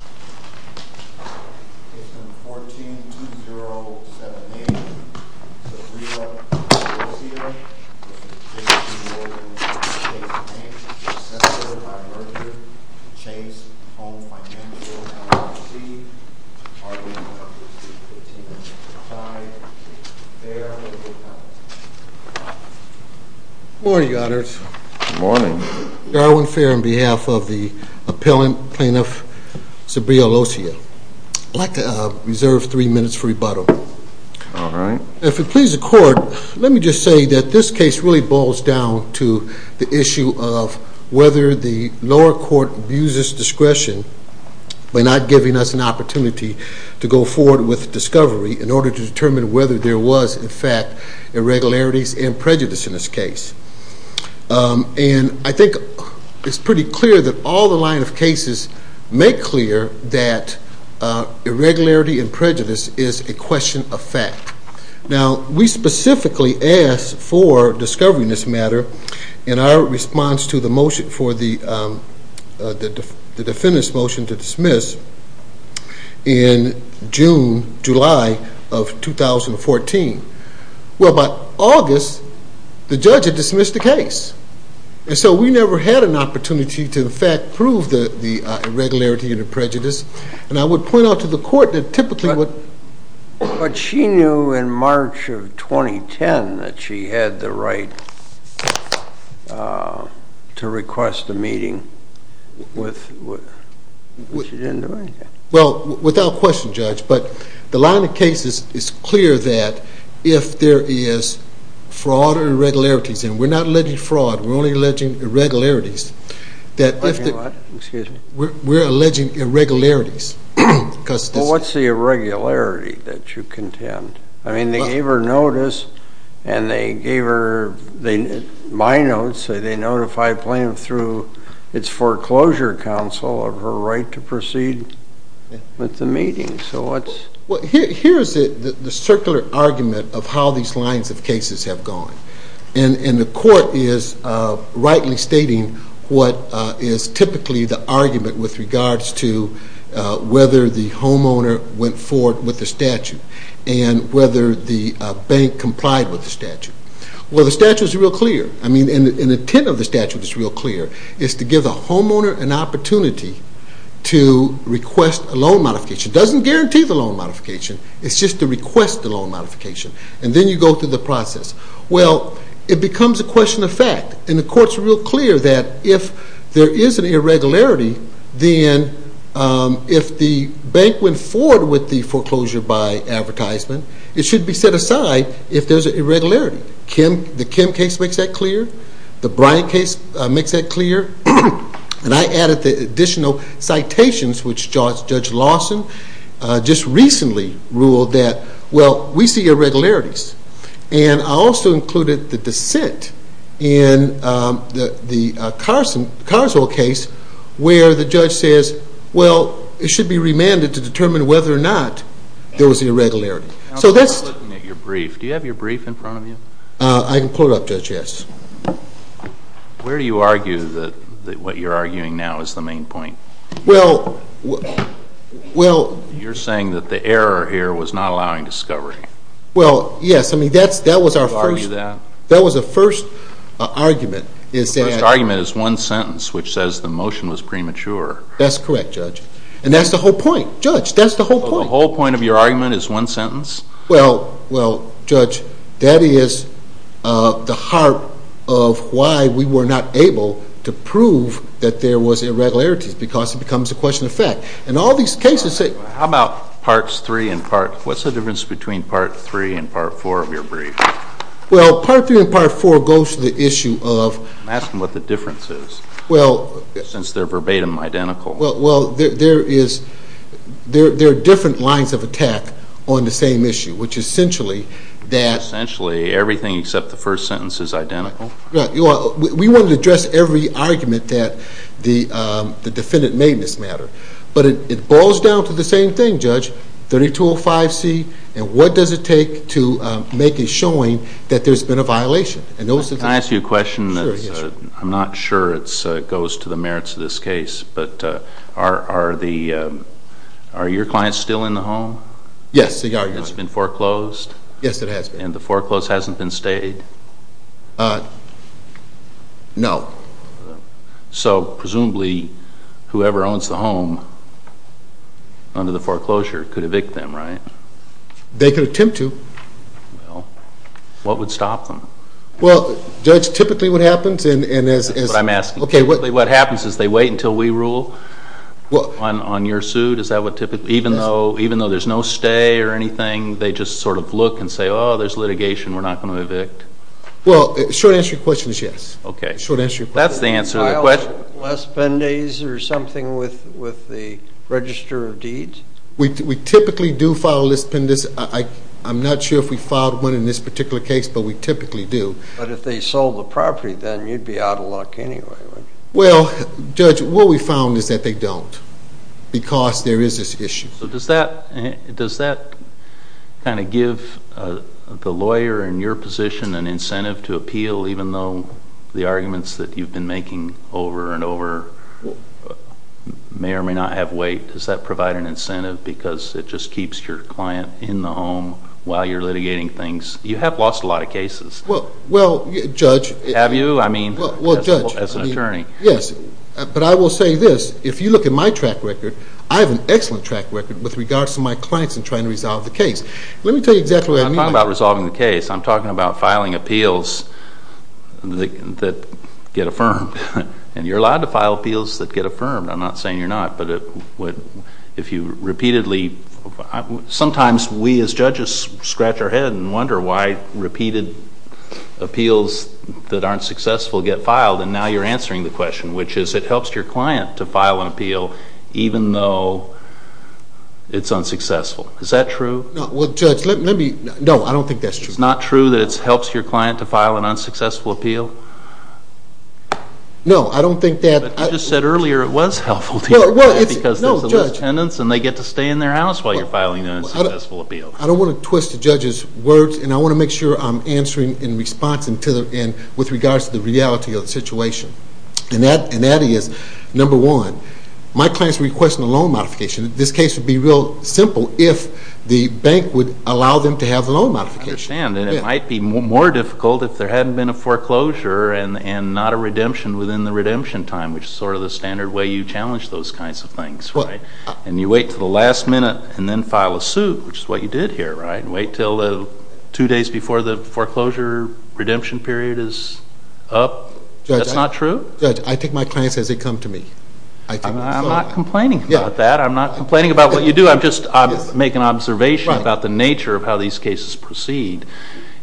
Successor, by virtue of the Chase Home Financial LLC, argument number 315.5, Fair, legal, penalty. Good morning, Your Honors. Good morning. Darwin Fair on behalf of the Appellant Plaintiff, Sabria Lossia. I'd like to reserve three minutes for rebuttal. All right. If it pleases the Court, let me just say that this case really boils down to the issue of whether the lower court abuses discretion by not giving us an opportunity to go forward with discovery in order to determine whether there was, in fact, irregularities and prejudice in this case. And I think it's pretty clear that all the line of cases make clear that irregularity and prejudice is a question of fact. Now, we specifically asked for discovery in this matter in our response to the motion for the defendant's motion to dismiss in June, July of 2014. Well, by August, the judge had dismissed the case. And so we never had an opportunity to, in fact, prove the irregularity and the prejudice. And I would point out to the Court that typically what… But she knew in March of 2010 that she had the right to request a meeting, but she didn't do anything. Well, without question, Judge, but the line of cases is clear that if there is fraud or irregularities, and we're not alleging fraud. We're only alleging irregularities. Alleging what? Excuse me. We're alleging irregularities. Well, what's the irregularity that you contend? I mean, they gave her notice, and they gave her my notes. They notified Plaintiff through its foreclosure counsel of her right to proceed with the meeting. So what's… Well, here's the circular argument of how these lines of cases have gone. And the Court is rightly stating what is typically the argument with regards to whether the homeowner went forward with the statute. And whether the bank complied with the statute. Well, the statute is real clear. I mean, the intent of the statute is real clear. It's to give the homeowner an opportunity to request a loan modification. It doesn't guarantee the loan modification. It's just to request the loan modification. And then you go through the process. Well, it becomes a question of fact. And the Court's real clear that if there is an irregularity, then if the bank went forward with the foreclosure by advertisement, it should be set aside if there's an irregularity. The Kim case makes that clear. The Bryant case makes that clear. And I added the additional citations, which Judge Lawson just recently ruled that, well, we see irregularities. And I also included the dissent in the Carswell case where the judge says, well, it should be remanded to determine whether or not there was an irregularity. I'm still looking at your brief. Do you have your brief in front of you? I can pull it up, Judge, yes. Where do you argue that what you're arguing now is the main point? Well, well. You're saying that the error here was not allowing discovery. Well, yes. I mean, that was our first argument. The first argument is one sentence, which says the motion was premature. That's correct, Judge. And that's the whole point. Judge, that's the whole point. The whole point of your argument is one sentence? Well, Judge, that is the heart of why we were not able to prove that there was irregularities, because it becomes a question of fact. How about Parts 3 and Part – what's the difference between Part 3 and Part 4 of your brief? Well, Part 3 and Part 4 goes to the issue of – I'm asking what the difference is, since they're verbatim identical. Well, there are different lines of attack on the same issue, which is essentially that – Essentially, everything except the first sentence is identical? We wanted to address every argument that the defendant made in this matter. But it boils down to the same thing, Judge, 3205C, and what does it take to make it showing that there's been a violation? Can I ask you a question? Sure. I'm not sure it goes to the merits of this case, but are your clients still in the home? Yes, they are. It's been foreclosed? Yes, it has been. And the foreclose hasn't been stayed? No. So, presumably, whoever owns the home under the foreclosure could evict them, right? They could attempt to. Well, what would stop them? Well, Judge, typically what happens is – That's what I'm asking. Typically what happens is they wait until we rule on your suit? Even though there's no stay or anything, they just sort of look and say, oh, there's litigation, we're not going to evict? Well, the short answer to your question is yes. Okay. That's the answer to the question. Do you file less penalties or something with the Register of Deeds? We typically do file less penalties. I'm not sure if we filed one in this particular case, but we typically do. But if they sold the property, then you'd be out of luck anyway, wouldn't you? Well, Judge, what we found is that they don't because there is this issue. So does that kind of give the lawyer in your position an incentive to appeal, even though the arguments that you've been making over and over may or may not have weight? Does that provide an incentive because it just keeps your client in the home while you're litigating things? You have lost a lot of cases. Well, Judge – Have you? That's what I mean as an attorney. Yes, but I will say this. If you look at my track record, I have an excellent track record with regards to my clients in trying to resolve the case. Let me tell you exactly what I mean by that. I'm not talking about resolving the case. I'm talking about filing appeals that get affirmed. And you're allowed to file appeals that get affirmed. I'm not saying you're not, but if you repeatedly – Sometimes we as judges scratch our head and wonder why repeated appeals that aren't successful get filed, and now you're answering the question, which is it helps your client to file an appeal even though it's unsuccessful. Is that true? Well, Judge, let me – no, I don't think that's true. It's not true that it helps your client to file an unsuccessful appeal? No, I don't think that – But you just said earlier it was helpful to your client because there's a list of tenants and they get to stay in their house while you're filing an unsuccessful appeal. I don't want to twist the judge's words, and I want to make sure I'm answering in response with regards to the reality of the situation. And that is, number one, my client's requesting a loan modification. This case would be real simple if the bank would allow them to have a loan modification. I understand, and it might be more difficult if there hadn't been a foreclosure and not a redemption within the redemption time, which is sort of the standard way you challenge those kinds of things, right? And you wait until the last minute and then file a suit, which is what you did here, right? Wait until two days before the foreclosure redemption period is up? That's not true? Judge, I think my client says it comes to me. I'm not complaining about that. I'm not complaining about what you do. I'm just making an observation about the nature of how these cases proceed.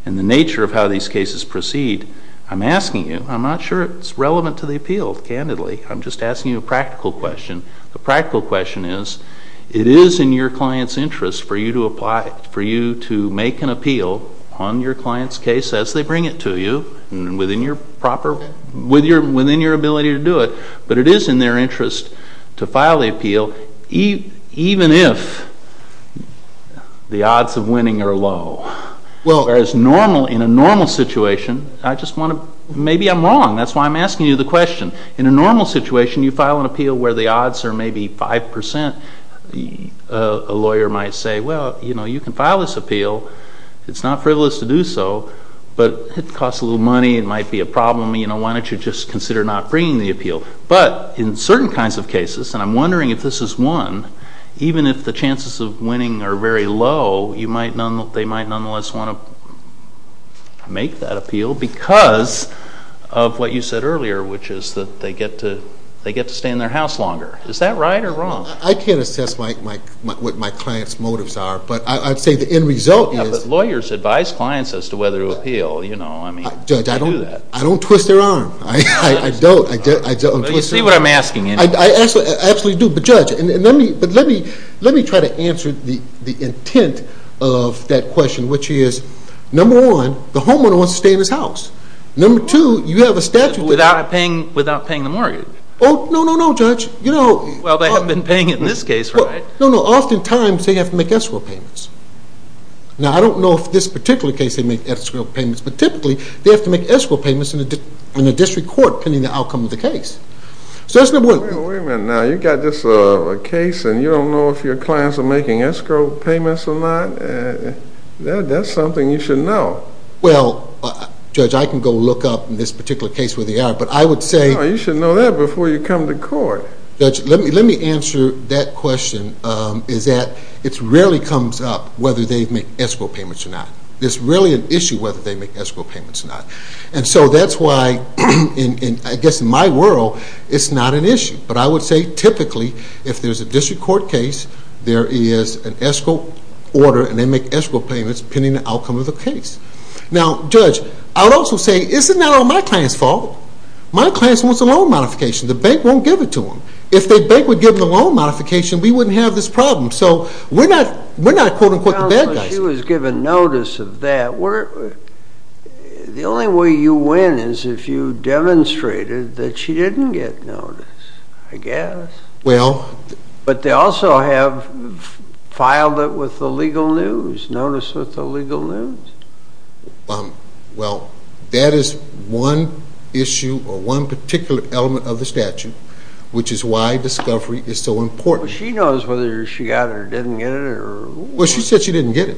And the nature of how these cases proceed, I'm asking you, I'm not sure it's relevant to the appeal, candidly. I'm just asking you a practical question. The practical question is it is in your client's interest for you to make an appeal on your client's case as they bring it to you and within your ability to do it, but it is in their interest to file the appeal even if the odds of winning are low. Whereas in a normal situation, I just want to, maybe I'm wrong. That's why I'm asking you the question. In a normal situation, you file an appeal where the odds are maybe 5%. A lawyer might say, well, you can file this appeal. It's not frivolous to do so, but it costs a little money. It might be a problem. Why don't you just consider not bringing the appeal? But in certain kinds of cases, and I'm wondering if this is one, even if the chances of winning are very low, they might nonetheless want to make that appeal because of what you said earlier, which is that they get to stay in their house longer. Is that right or wrong? I can't assess what my client's motives are, but I'd say the end result is Lawyers advise clients as to whether to appeal. Judge, I don't twist their arm. I don't. You see what I'm asking you. I absolutely do. But, Judge, let me try to answer the intent of that question, which is, number one, the homeowner wants to stay in his house. Number two, you have a statute that Without paying the mortgage. Oh, no, no, no, Judge. Well, they haven't been paying it in this case, right? No, no. Oftentimes, they have to make escrow payments. Now, I don't know if this particular case they make escrow payments, but typically they have to make escrow payments in a district court depending on the outcome of the case. So that's number one. Wait a minute now. You've got this case and you don't know if your clients are making escrow payments or not? That's something you should know. Well, Judge, I can go look up in this particular case where they are, but I would say No, you should know that before you come to court. Judge, let me answer that question, is that it really comes up whether they make escrow payments or not. There's really an issue whether they make escrow payments or not. And so that's why, I guess in my world, it's not an issue. But I would say typically if there's a district court case, there is an escrow order and they make escrow payments depending on the outcome of the case. Now, Judge, I would also say it's not all my client's fault. My client wants a loan modification. The bank won't give it to them. If the bank would give them the loan modification, we wouldn't have this problem. So we're not, quote, unquote, the bad guys. Well, she was given notice of that. The only way you win is if you demonstrated that she didn't get notice, I guess. Well But they also have filed it with the legal news, notice with the legal news. Well, that is one issue or one particular element of the statute, which is why discovery is so important. But she knows whether she got it or didn't get it or Well, she said she didn't get it.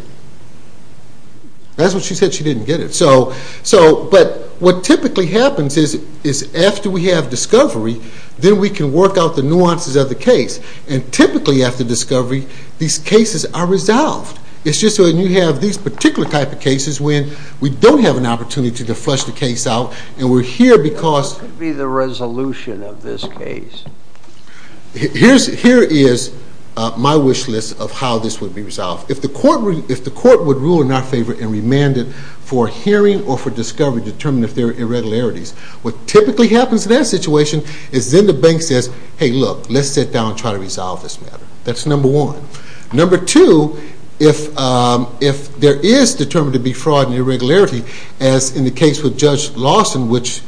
That's what she said, she didn't get it. But what typically happens is after we have discovery, then we can work out the nuances of the case. And typically after discovery, these cases are resolved. It's just when you have these particular type of cases when we don't have an opportunity to flush the case out and we're here because What could be the resolution of this case? Here is my wish list of how this would be resolved. If the court would rule in our favor and remand it for hearing or for discovery, determine if there are irregularities. What typically happens in that situation is then the bank says, hey, look, let's sit down and try to resolve this matter. That's number one. Number two, if there is determined to be fraud and irregularity, as in the case with Judge Lawson, which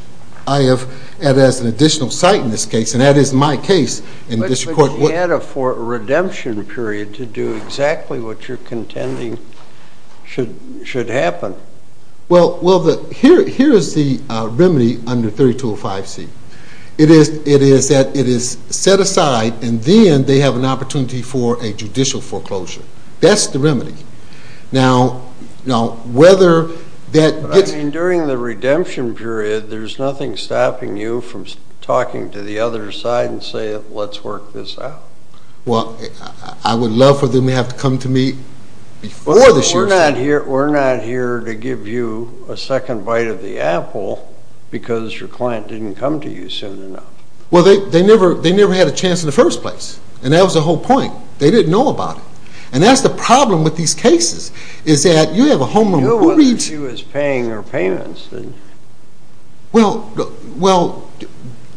I have as an additional site in this case, and that is my case. But you had a redemption period to do exactly what you're contending should happen. Well, here is the remedy under 3205C. It is that it is set aside and then they have an opportunity for a judicial foreclosure. That's the remedy. During the redemption period, there's nothing stopping you from talking to the other side and saying, let's work this out. Well, I would love for them to have come to me before this year. We're not here to give you a second bite of the apple because your client didn't come to you soon enough. Well, they never had a chance in the first place. And that was the whole point. They didn't know about it. And that's the problem with these cases, is that you have a homeowner who reads. You know whether she was paying her payments. Well,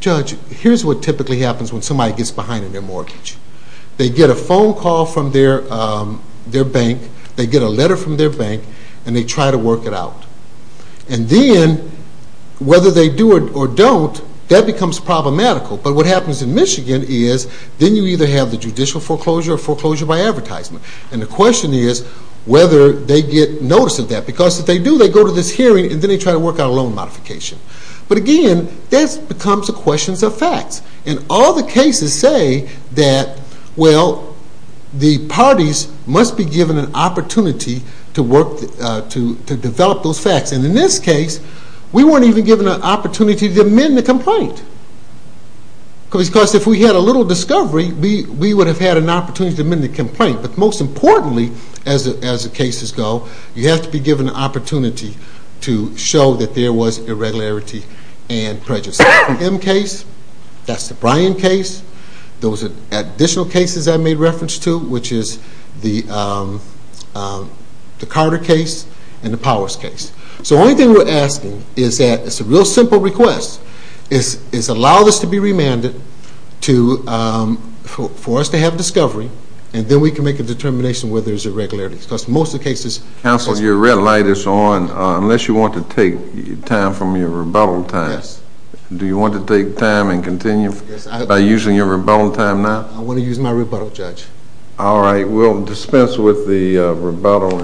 Judge, here's what typically happens when somebody gets behind on their mortgage. They get a phone call from their bank, they get a letter from their bank, and they try to work it out. And then, whether they do it or don't, that becomes problematical. But what happens in Michigan is then you either have the judicial foreclosure or foreclosure by advertisement. And the question is whether they get notice of that. Because if they do, they go to this hearing and then they try to work out a loan modification. But again, this becomes a question of facts. And all the cases say that, well, the parties must be given an opportunity to develop those facts. And in this case, we weren't even given an opportunity to amend the complaint. Because if we had a little discovery, we would have had an opportunity to amend the complaint. But most importantly, as the cases go, you have to be given an opportunity to show that there was irregularity and prejudice. That's the M case. That's the Bryan case. Those are additional cases I made reference to, which is the Carter case and the Powers case. So the only thing we're asking is that it's a real simple request. It's allow this to be remanded for us to have discovery, and then we can make a determination whether there's irregularity. Counsel, your red light is on unless you want to take time from your rebuttal time. Yes. Do you want to take time and continue by using your rebuttal time now? I want to use my rebuttal, Judge. All right. We'll dispense with the rebuttal.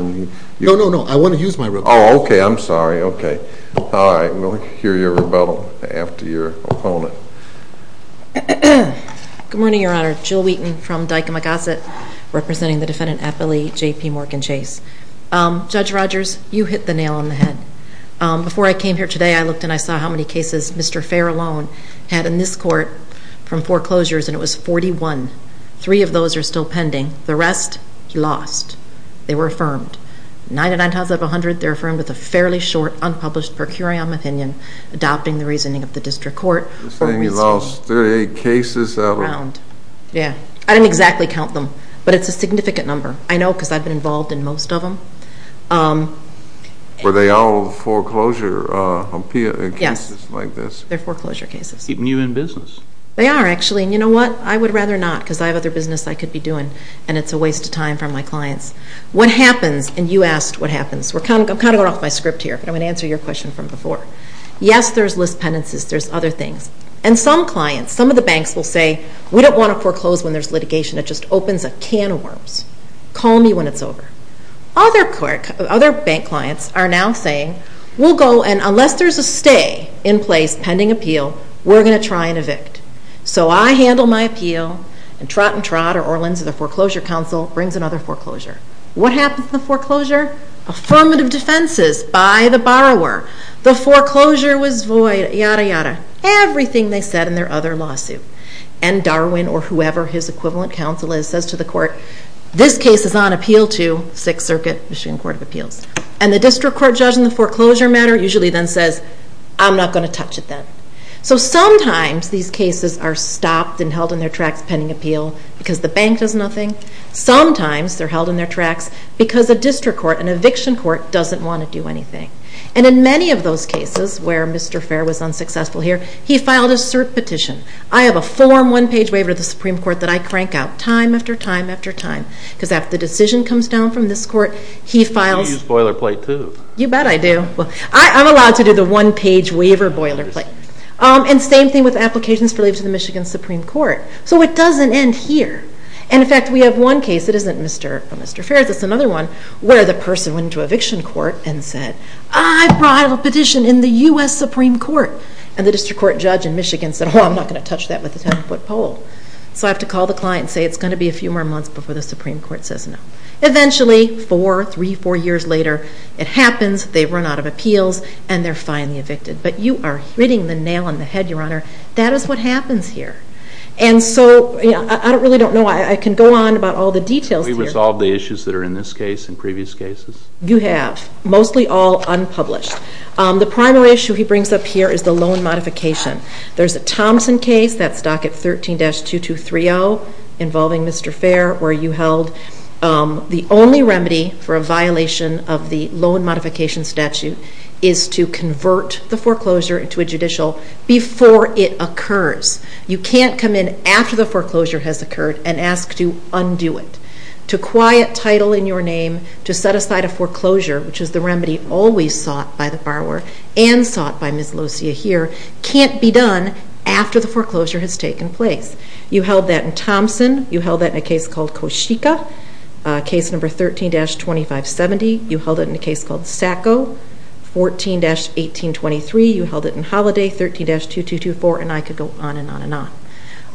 No, no, no. I want to use my rebuttal. Oh, okay. I'm sorry. Okay. All right. We'll hear your rebuttal after your opponent. Good morning, Your Honor. Jill Wheaton from Dyke and McGosset, representing the defendant at Billy J.P. Morgan Chase. Judge Rogers, you hit the nail on the head. Before I came here today, I looked and I saw how many cases Mr. Fair alone had in this court from foreclosures, and it was 41. Three of those are still pending. The rest, he lost. They were affirmed. 99 times out of 100, they're affirmed with a fairly short unpublished per curiam opinion, adopting the reasoning of the district court. You're saying he lost 38 cases out of? Yeah. I didn't exactly count them, but it's a significant number. I know because I've been involved in most of them. Were they all foreclosure cases like this? Yes. They're foreclosure cases. Keeping you in business. They are, actually, and you know what? I would rather not because I have other business I could be doing, and it's a waste of time for my clients. What happens, and you asked what happens. I'm kind of going off my script here, but I'm going to answer your question from before. Yes, there's list penances. There's other things, and some clients, some of the banks will say, we don't want to foreclose when there's litigation. It just opens a can of worms. Call me when it's over. Other bank clients are now saying, we'll go, and unless there's a stay in place pending appeal, we're going to try and evict. So I handle my appeal, and trot and trot or Orlin's or the foreclosure council brings another foreclosure. Affirmative defenses by the borrower. The foreclosure was void, yada, yada. Everything they said in their other lawsuit. And Darwin or whoever his equivalent counsel is says to the court, this case is on appeal to Sixth Circuit, Michigan Court of Appeals. And the district court judge in the foreclosure matter usually then says, I'm not going to touch it then. So sometimes these cases are stopped and held in their tracks pending appeal because the bank does nothing. Sometimes they're held in their tracks because a district court, an eviction court, doesn't want to do anything. And in many of those cases where Mr. Fair was unsuccessful here, he filed a cert petition. I have a form one-page waiver of the Supreme Court that I crank out time after time after time. Because after the decision comes down from this court, he files. You use boilerplate too. You bet I do. I'm allowed to do the one-page waiver boilerplate. And same thing with applications for leave to the Michigan Supreme Court. So it doesn't end here. And in fact, we have one case that isn't Mr. Fair's, it's another one, where the person went into eviction court and said, I brought a petition in the U.S. Supreme Court. And the district court judge in Michigan said, oh, I'm not going to touch that with a 10-foot pole. So I have to call the client and say it's going to be a few more months before the Supreme Court says no. Eventually, four, three, four years later, it happens, they run out of appeals, and they're finally evicted. But you are hitting the nail on the head, Your Honor. That is what happens here. And so I really don't know. I can go on about all the details here. Have we resolved the issues that are in this case and previous cases? You have. Mostly all unpublished. The primary issue he brings up here is the loan modification. There's a Thompson case, that's docket 13-2230, involving Mr. Fair, where you held the only remedy for a violation of the loan modification statute is to convert the foreclosure into a judicial before it occurs. You can't come in after the foreclosure has occurred and ask to undo it. To quiet title in your name, to set aside a foreclosure, which is the remedy always sought by the borrower and sought by Ms. Locia here, can't be done after the foreclosure has taken place. You held that in Thompson. You held that in a case called Koshika, case number 13-2570. You held it in a case called Sacco, 14-1823. You held it in Holiday, 13-2224, and I could go on and on and on.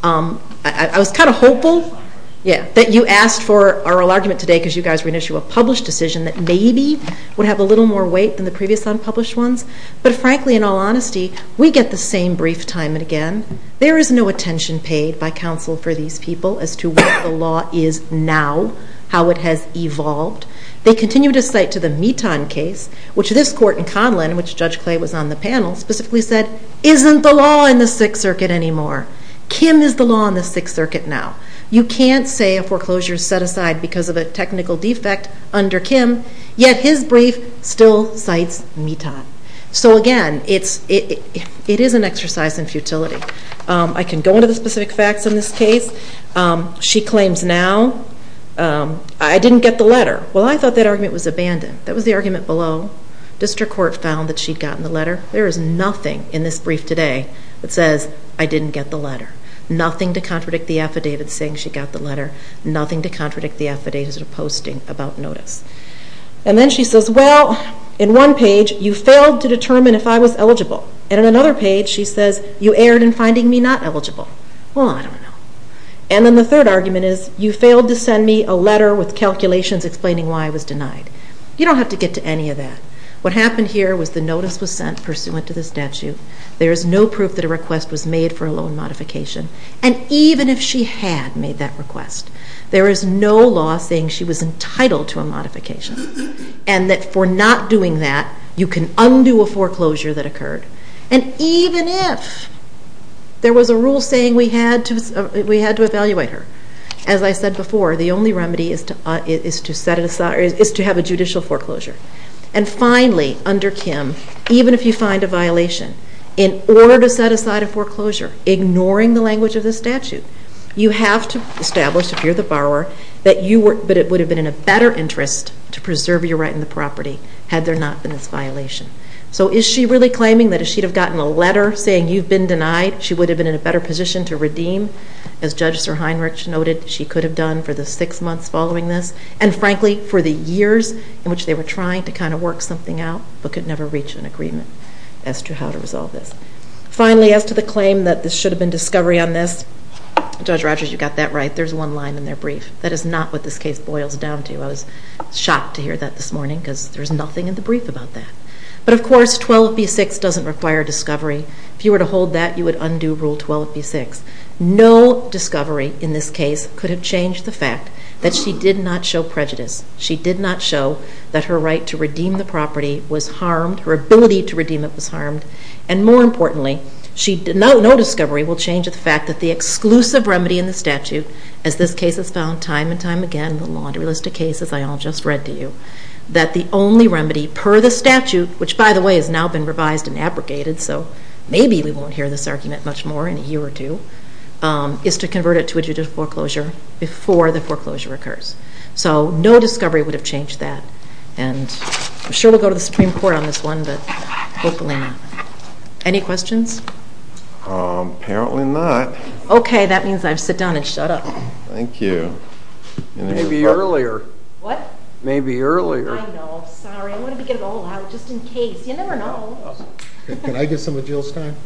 I was kind of hopeful that you asked for our argument today because you guys were going to issue a published decision that maybe would have a little more weight than the previous unpublished ones. But frankly, in all honesty, we get the same brief time and again. There is no attention paid by counsel for these people as to what the law is now, how it has evolved. They continue to cite to the Mitan case, which this court in Conlin, which Judge Clay was on the panel, specifically said, isn't the law in the Sixth Circuit anymore. Kim is the law in the Sixth Circuit now. You can't say a foreclosure is set aside because of a technical defect under Kim, yet his brief still cites Mitan. So again, it is an exercise in futility. I can go into the specific facts in this case. She claims now, I didn't get the letter. Well, I thought that argument was abandoned. That was the argument below. District Court found that she'd gotten the letter. There is nothing in this brief today that says, I didn't get the letter. Nothing to contradict the affidavit saying she got the letter. Nothing to contradict the affidavit of posting about notice. And then she says, well, in one page, you failed to determine if I was eligible. And in another page, she says, you erred in finding me not eligible. Well, I don't know. And then the third argument is, you failed to send me a letter with calculations explaining why I was denied. You don't have to get to any of that. What happened here was the notice was sent pursuant to the statute. There is no proof that a request was made for a loan modification. And even if she had made that request, there is no law saying she was entitled to a modification and that for not doing that, you can undo a foreclosure that occurred. And even if there was a rule saying we had to evaluate her, as I said before, the only remedy is to have a judicial foreclosure. And finally, under Kim, even if you find a violation, in order to set aside a foreclosure, ignoring the language of the statute, you have to establish, if you're the borrower, that it would have been in a better interest to preserve your right on the property had there not been this violation. So is she really claiming that if she had gotten a letter saying you've been denied, she would have been in a better position to redeem? As Judge Sir Heinrich noted, she could have done for the six months following this and, frankly, for the years in which they were trying to kind of work something out but could never reach an agreement as to how to resolve this. Finally, as to the claim that this should have been discovery on this, Judge Rogers, you got that right. There's one line in their brief. That is not what this case boils down to. I was shocked to hear that this morning because there's nothing in the brief about that. But, of course, 12b-6 doesn't require discovery. If you were to hold that, you would undo Rule 12b-6. No discovery in this case could have changed the fact that she did not show prejudice. She did not show that her right to redeem the property was harmed, her ability to redeem it was harmed. And more importantly, no discovery will change the fact that the exclusive remedy in the statute, as this case is found time and time again, the laundry list of cases I all just read to you, that the only remedy per the statute, which, by the way, has now been revised and abrogated, so maybe we won't hear this argument much more in a year or two, is to convert it to a judicial foreclosure before the foreclosure occurs. So no discovery would have changed that. And I'm sure we'll go to the Supreme Court on this one, but hopefully not. Any questions? Apparently not. Okay. That means I sit down and shut up. Thank you. Maybe earlier. What? Maybe earlier. I know. Sorry. I wanted to get it all out just in case. You never know. Can I get some of Jill's time?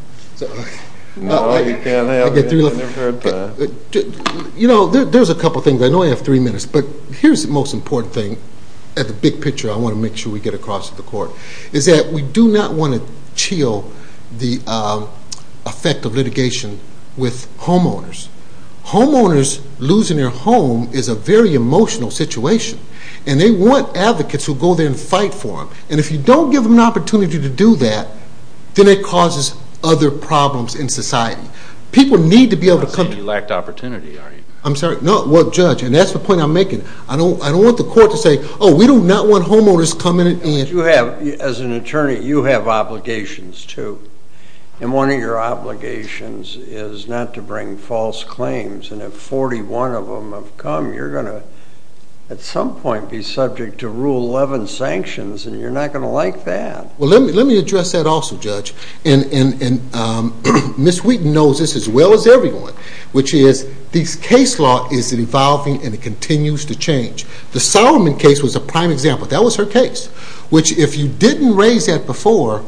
No, you can't. I've never heard that. You know, there's a couple things. I know I have three minutes, but here's the most important thing at the big picture I want to make sure we get across to the Court, is that we do not want to chill the effect of litigation with homeowners. Homeowners losing their home is a very emotional situation, and they want advocates who go there and fight for them. And if you don't give them an opportunity to do that, then it causes other problems in society. People need to be able to come to you. I'm not saying you lacked opportunity, are you? I'm sorry? No. Well, Judge, and that's the point I'm making. I don't want the Court to say, oh, we do not want homeowners coming in. But you have, as an attorney, you have obligations, too. And one of your obligations is not to bring false claims. And if 41 of them have come, you're going to at some point be subject to Rule 11 sanctions, and you're not going to like that. Well, let me address that also, Judge. And Ms. Wheaton knows this as well as everyone, which is this case law is evolving and it continues to change. The Solomon case was a prime example. That was her case. Which, if you didn't raise that before,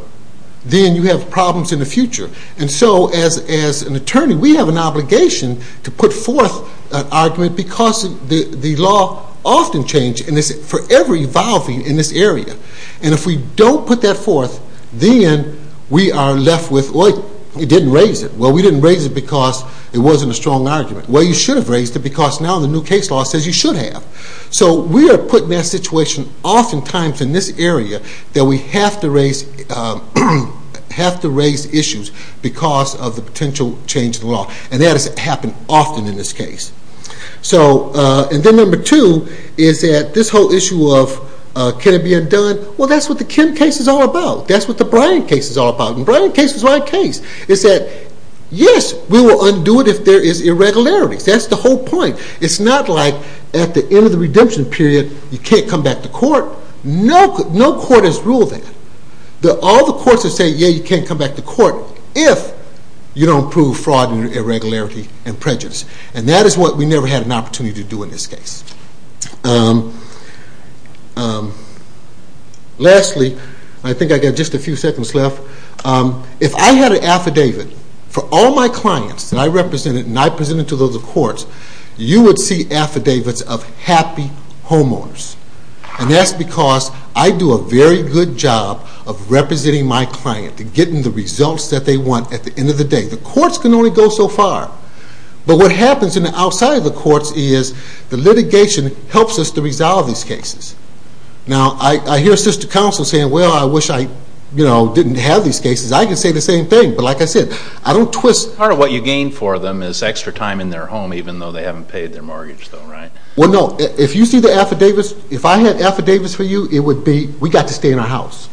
then you have problems in the future. And so, as an attorney, we have an obligation to put forth an argument because the law often changes, and it's forever evolving in this area. And if we don't put that forth, then we are left with, well, you didn't raise it. Well, we didn't raise it because it wasn't a strong argument. Well, you should have raised it because now the new case law says you should have. So we are putting that situation oftentimes in this area that we have to raise issues because of the potential change in the law. And that has happened often in this case. And then number two is that this whole issue of can it be undone, well, that's what the Kim case is all about. That's what the Bryant case is all about. And the Bryant case is my case. It's that, yes, we will undo it if there is irregularities. That's the whole point. It's not like at the end of the redemption period you can't come back to court. No court has ruled that. All the courts have said, yeah, you can't come back to court if you don't prove fraud and irregularity and prejudice. And that is what we never had an opportunity to do in this case. Lastly, I think I've got just a few seconds left. If I had an affidavit for all my clients that I represented and I presented to those courts, you would see affidavits of happy homeowners. And that's because I do a very good job of representing my client and getting the results that they want at the end of the day. The courts can only go so far. But what happens outside of the courts is the litigation helps us to resolve these cases. Now, I hear assistant counsel saying, well, I wish I didn't have these cases. I can say the same thing. But like I said, I don't twist. Part of what you gain for them is extra time in their home even though they haven't paid their mortgage, though, right? Well, no. If you see the affidavits, if I had affidavits for you, it would be we got to stay in our house.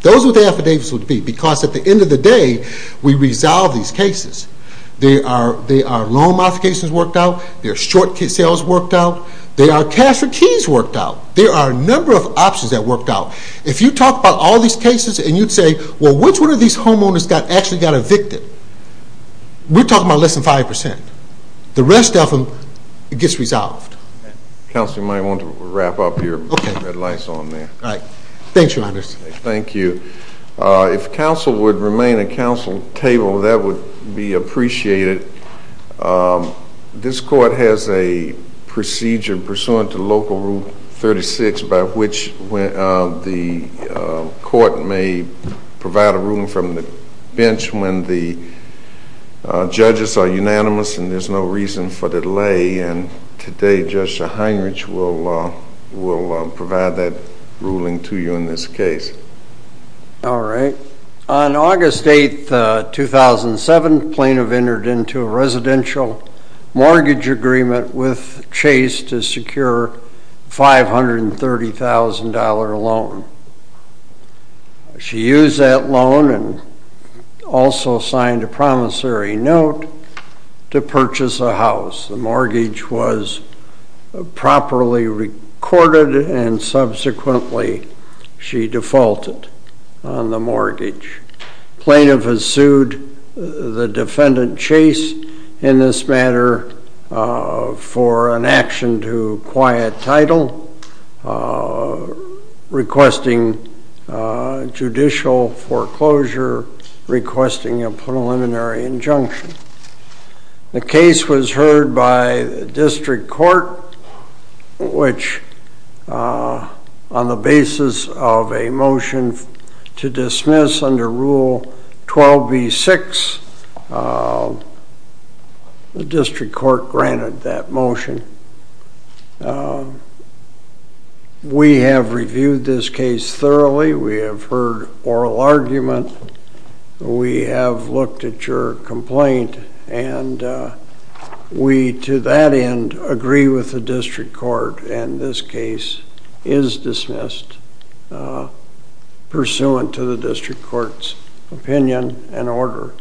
Those are what the affidavits would be because at the end of the day, we resolve these cases. There are loan modifications worked out. There are short sales worked out. There are cash for keys worked out. There are a number of options that worked out. If you talk about all these cases and you'd say, well, which one of these homeowners actually got evicted? We're talking about less than 5%. The rest of them gets resolved. Counsel, you might want to wrap up your red lights on there. All right. Thanks, Your Honor. Thank you. If counsel would remain at counsel's table, that would be appreciated. This court has a procedure pursuant to Local Rule 36 by which the court may provide a ruling from the bench when the judges are unanimous and there's no reason for delay. And today, Justice Heinrich will provide that ruling to you in this case. All right. On August 8, 2007, Plano entered into a residential mortgage agreement with Chase to secure a $530,000 loan. She used that loan and also signed a promissory note to purchase a house. The mortgage was properly recorded and subsequently she defaulted on the mortgage. Plano has sued the defendant Chase in this matter for an action to acquire a title, requesting judicial foreclosure, requesting a preliminary injunction. The case was heard by the district court, which on the basis of a motion to dismiss under Rule 12b-6, the district court granted that motion. We have reviewed this case thoroughly. We have heard oral argument. We have looked at your complaint. And we, to that end, agree with the district court. And this case is dismissed pursuant to the district court's opinion and order.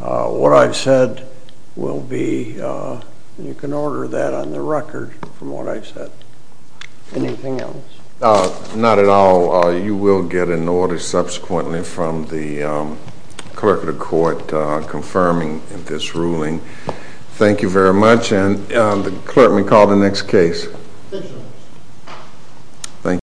What I've said will be, you can order that on the record from what I've said. Anything else? Not at all. You will get an order subsequently from the clerk of the court confirming this ruling. Thank you very much, and the clerk may call the next case. Thank you.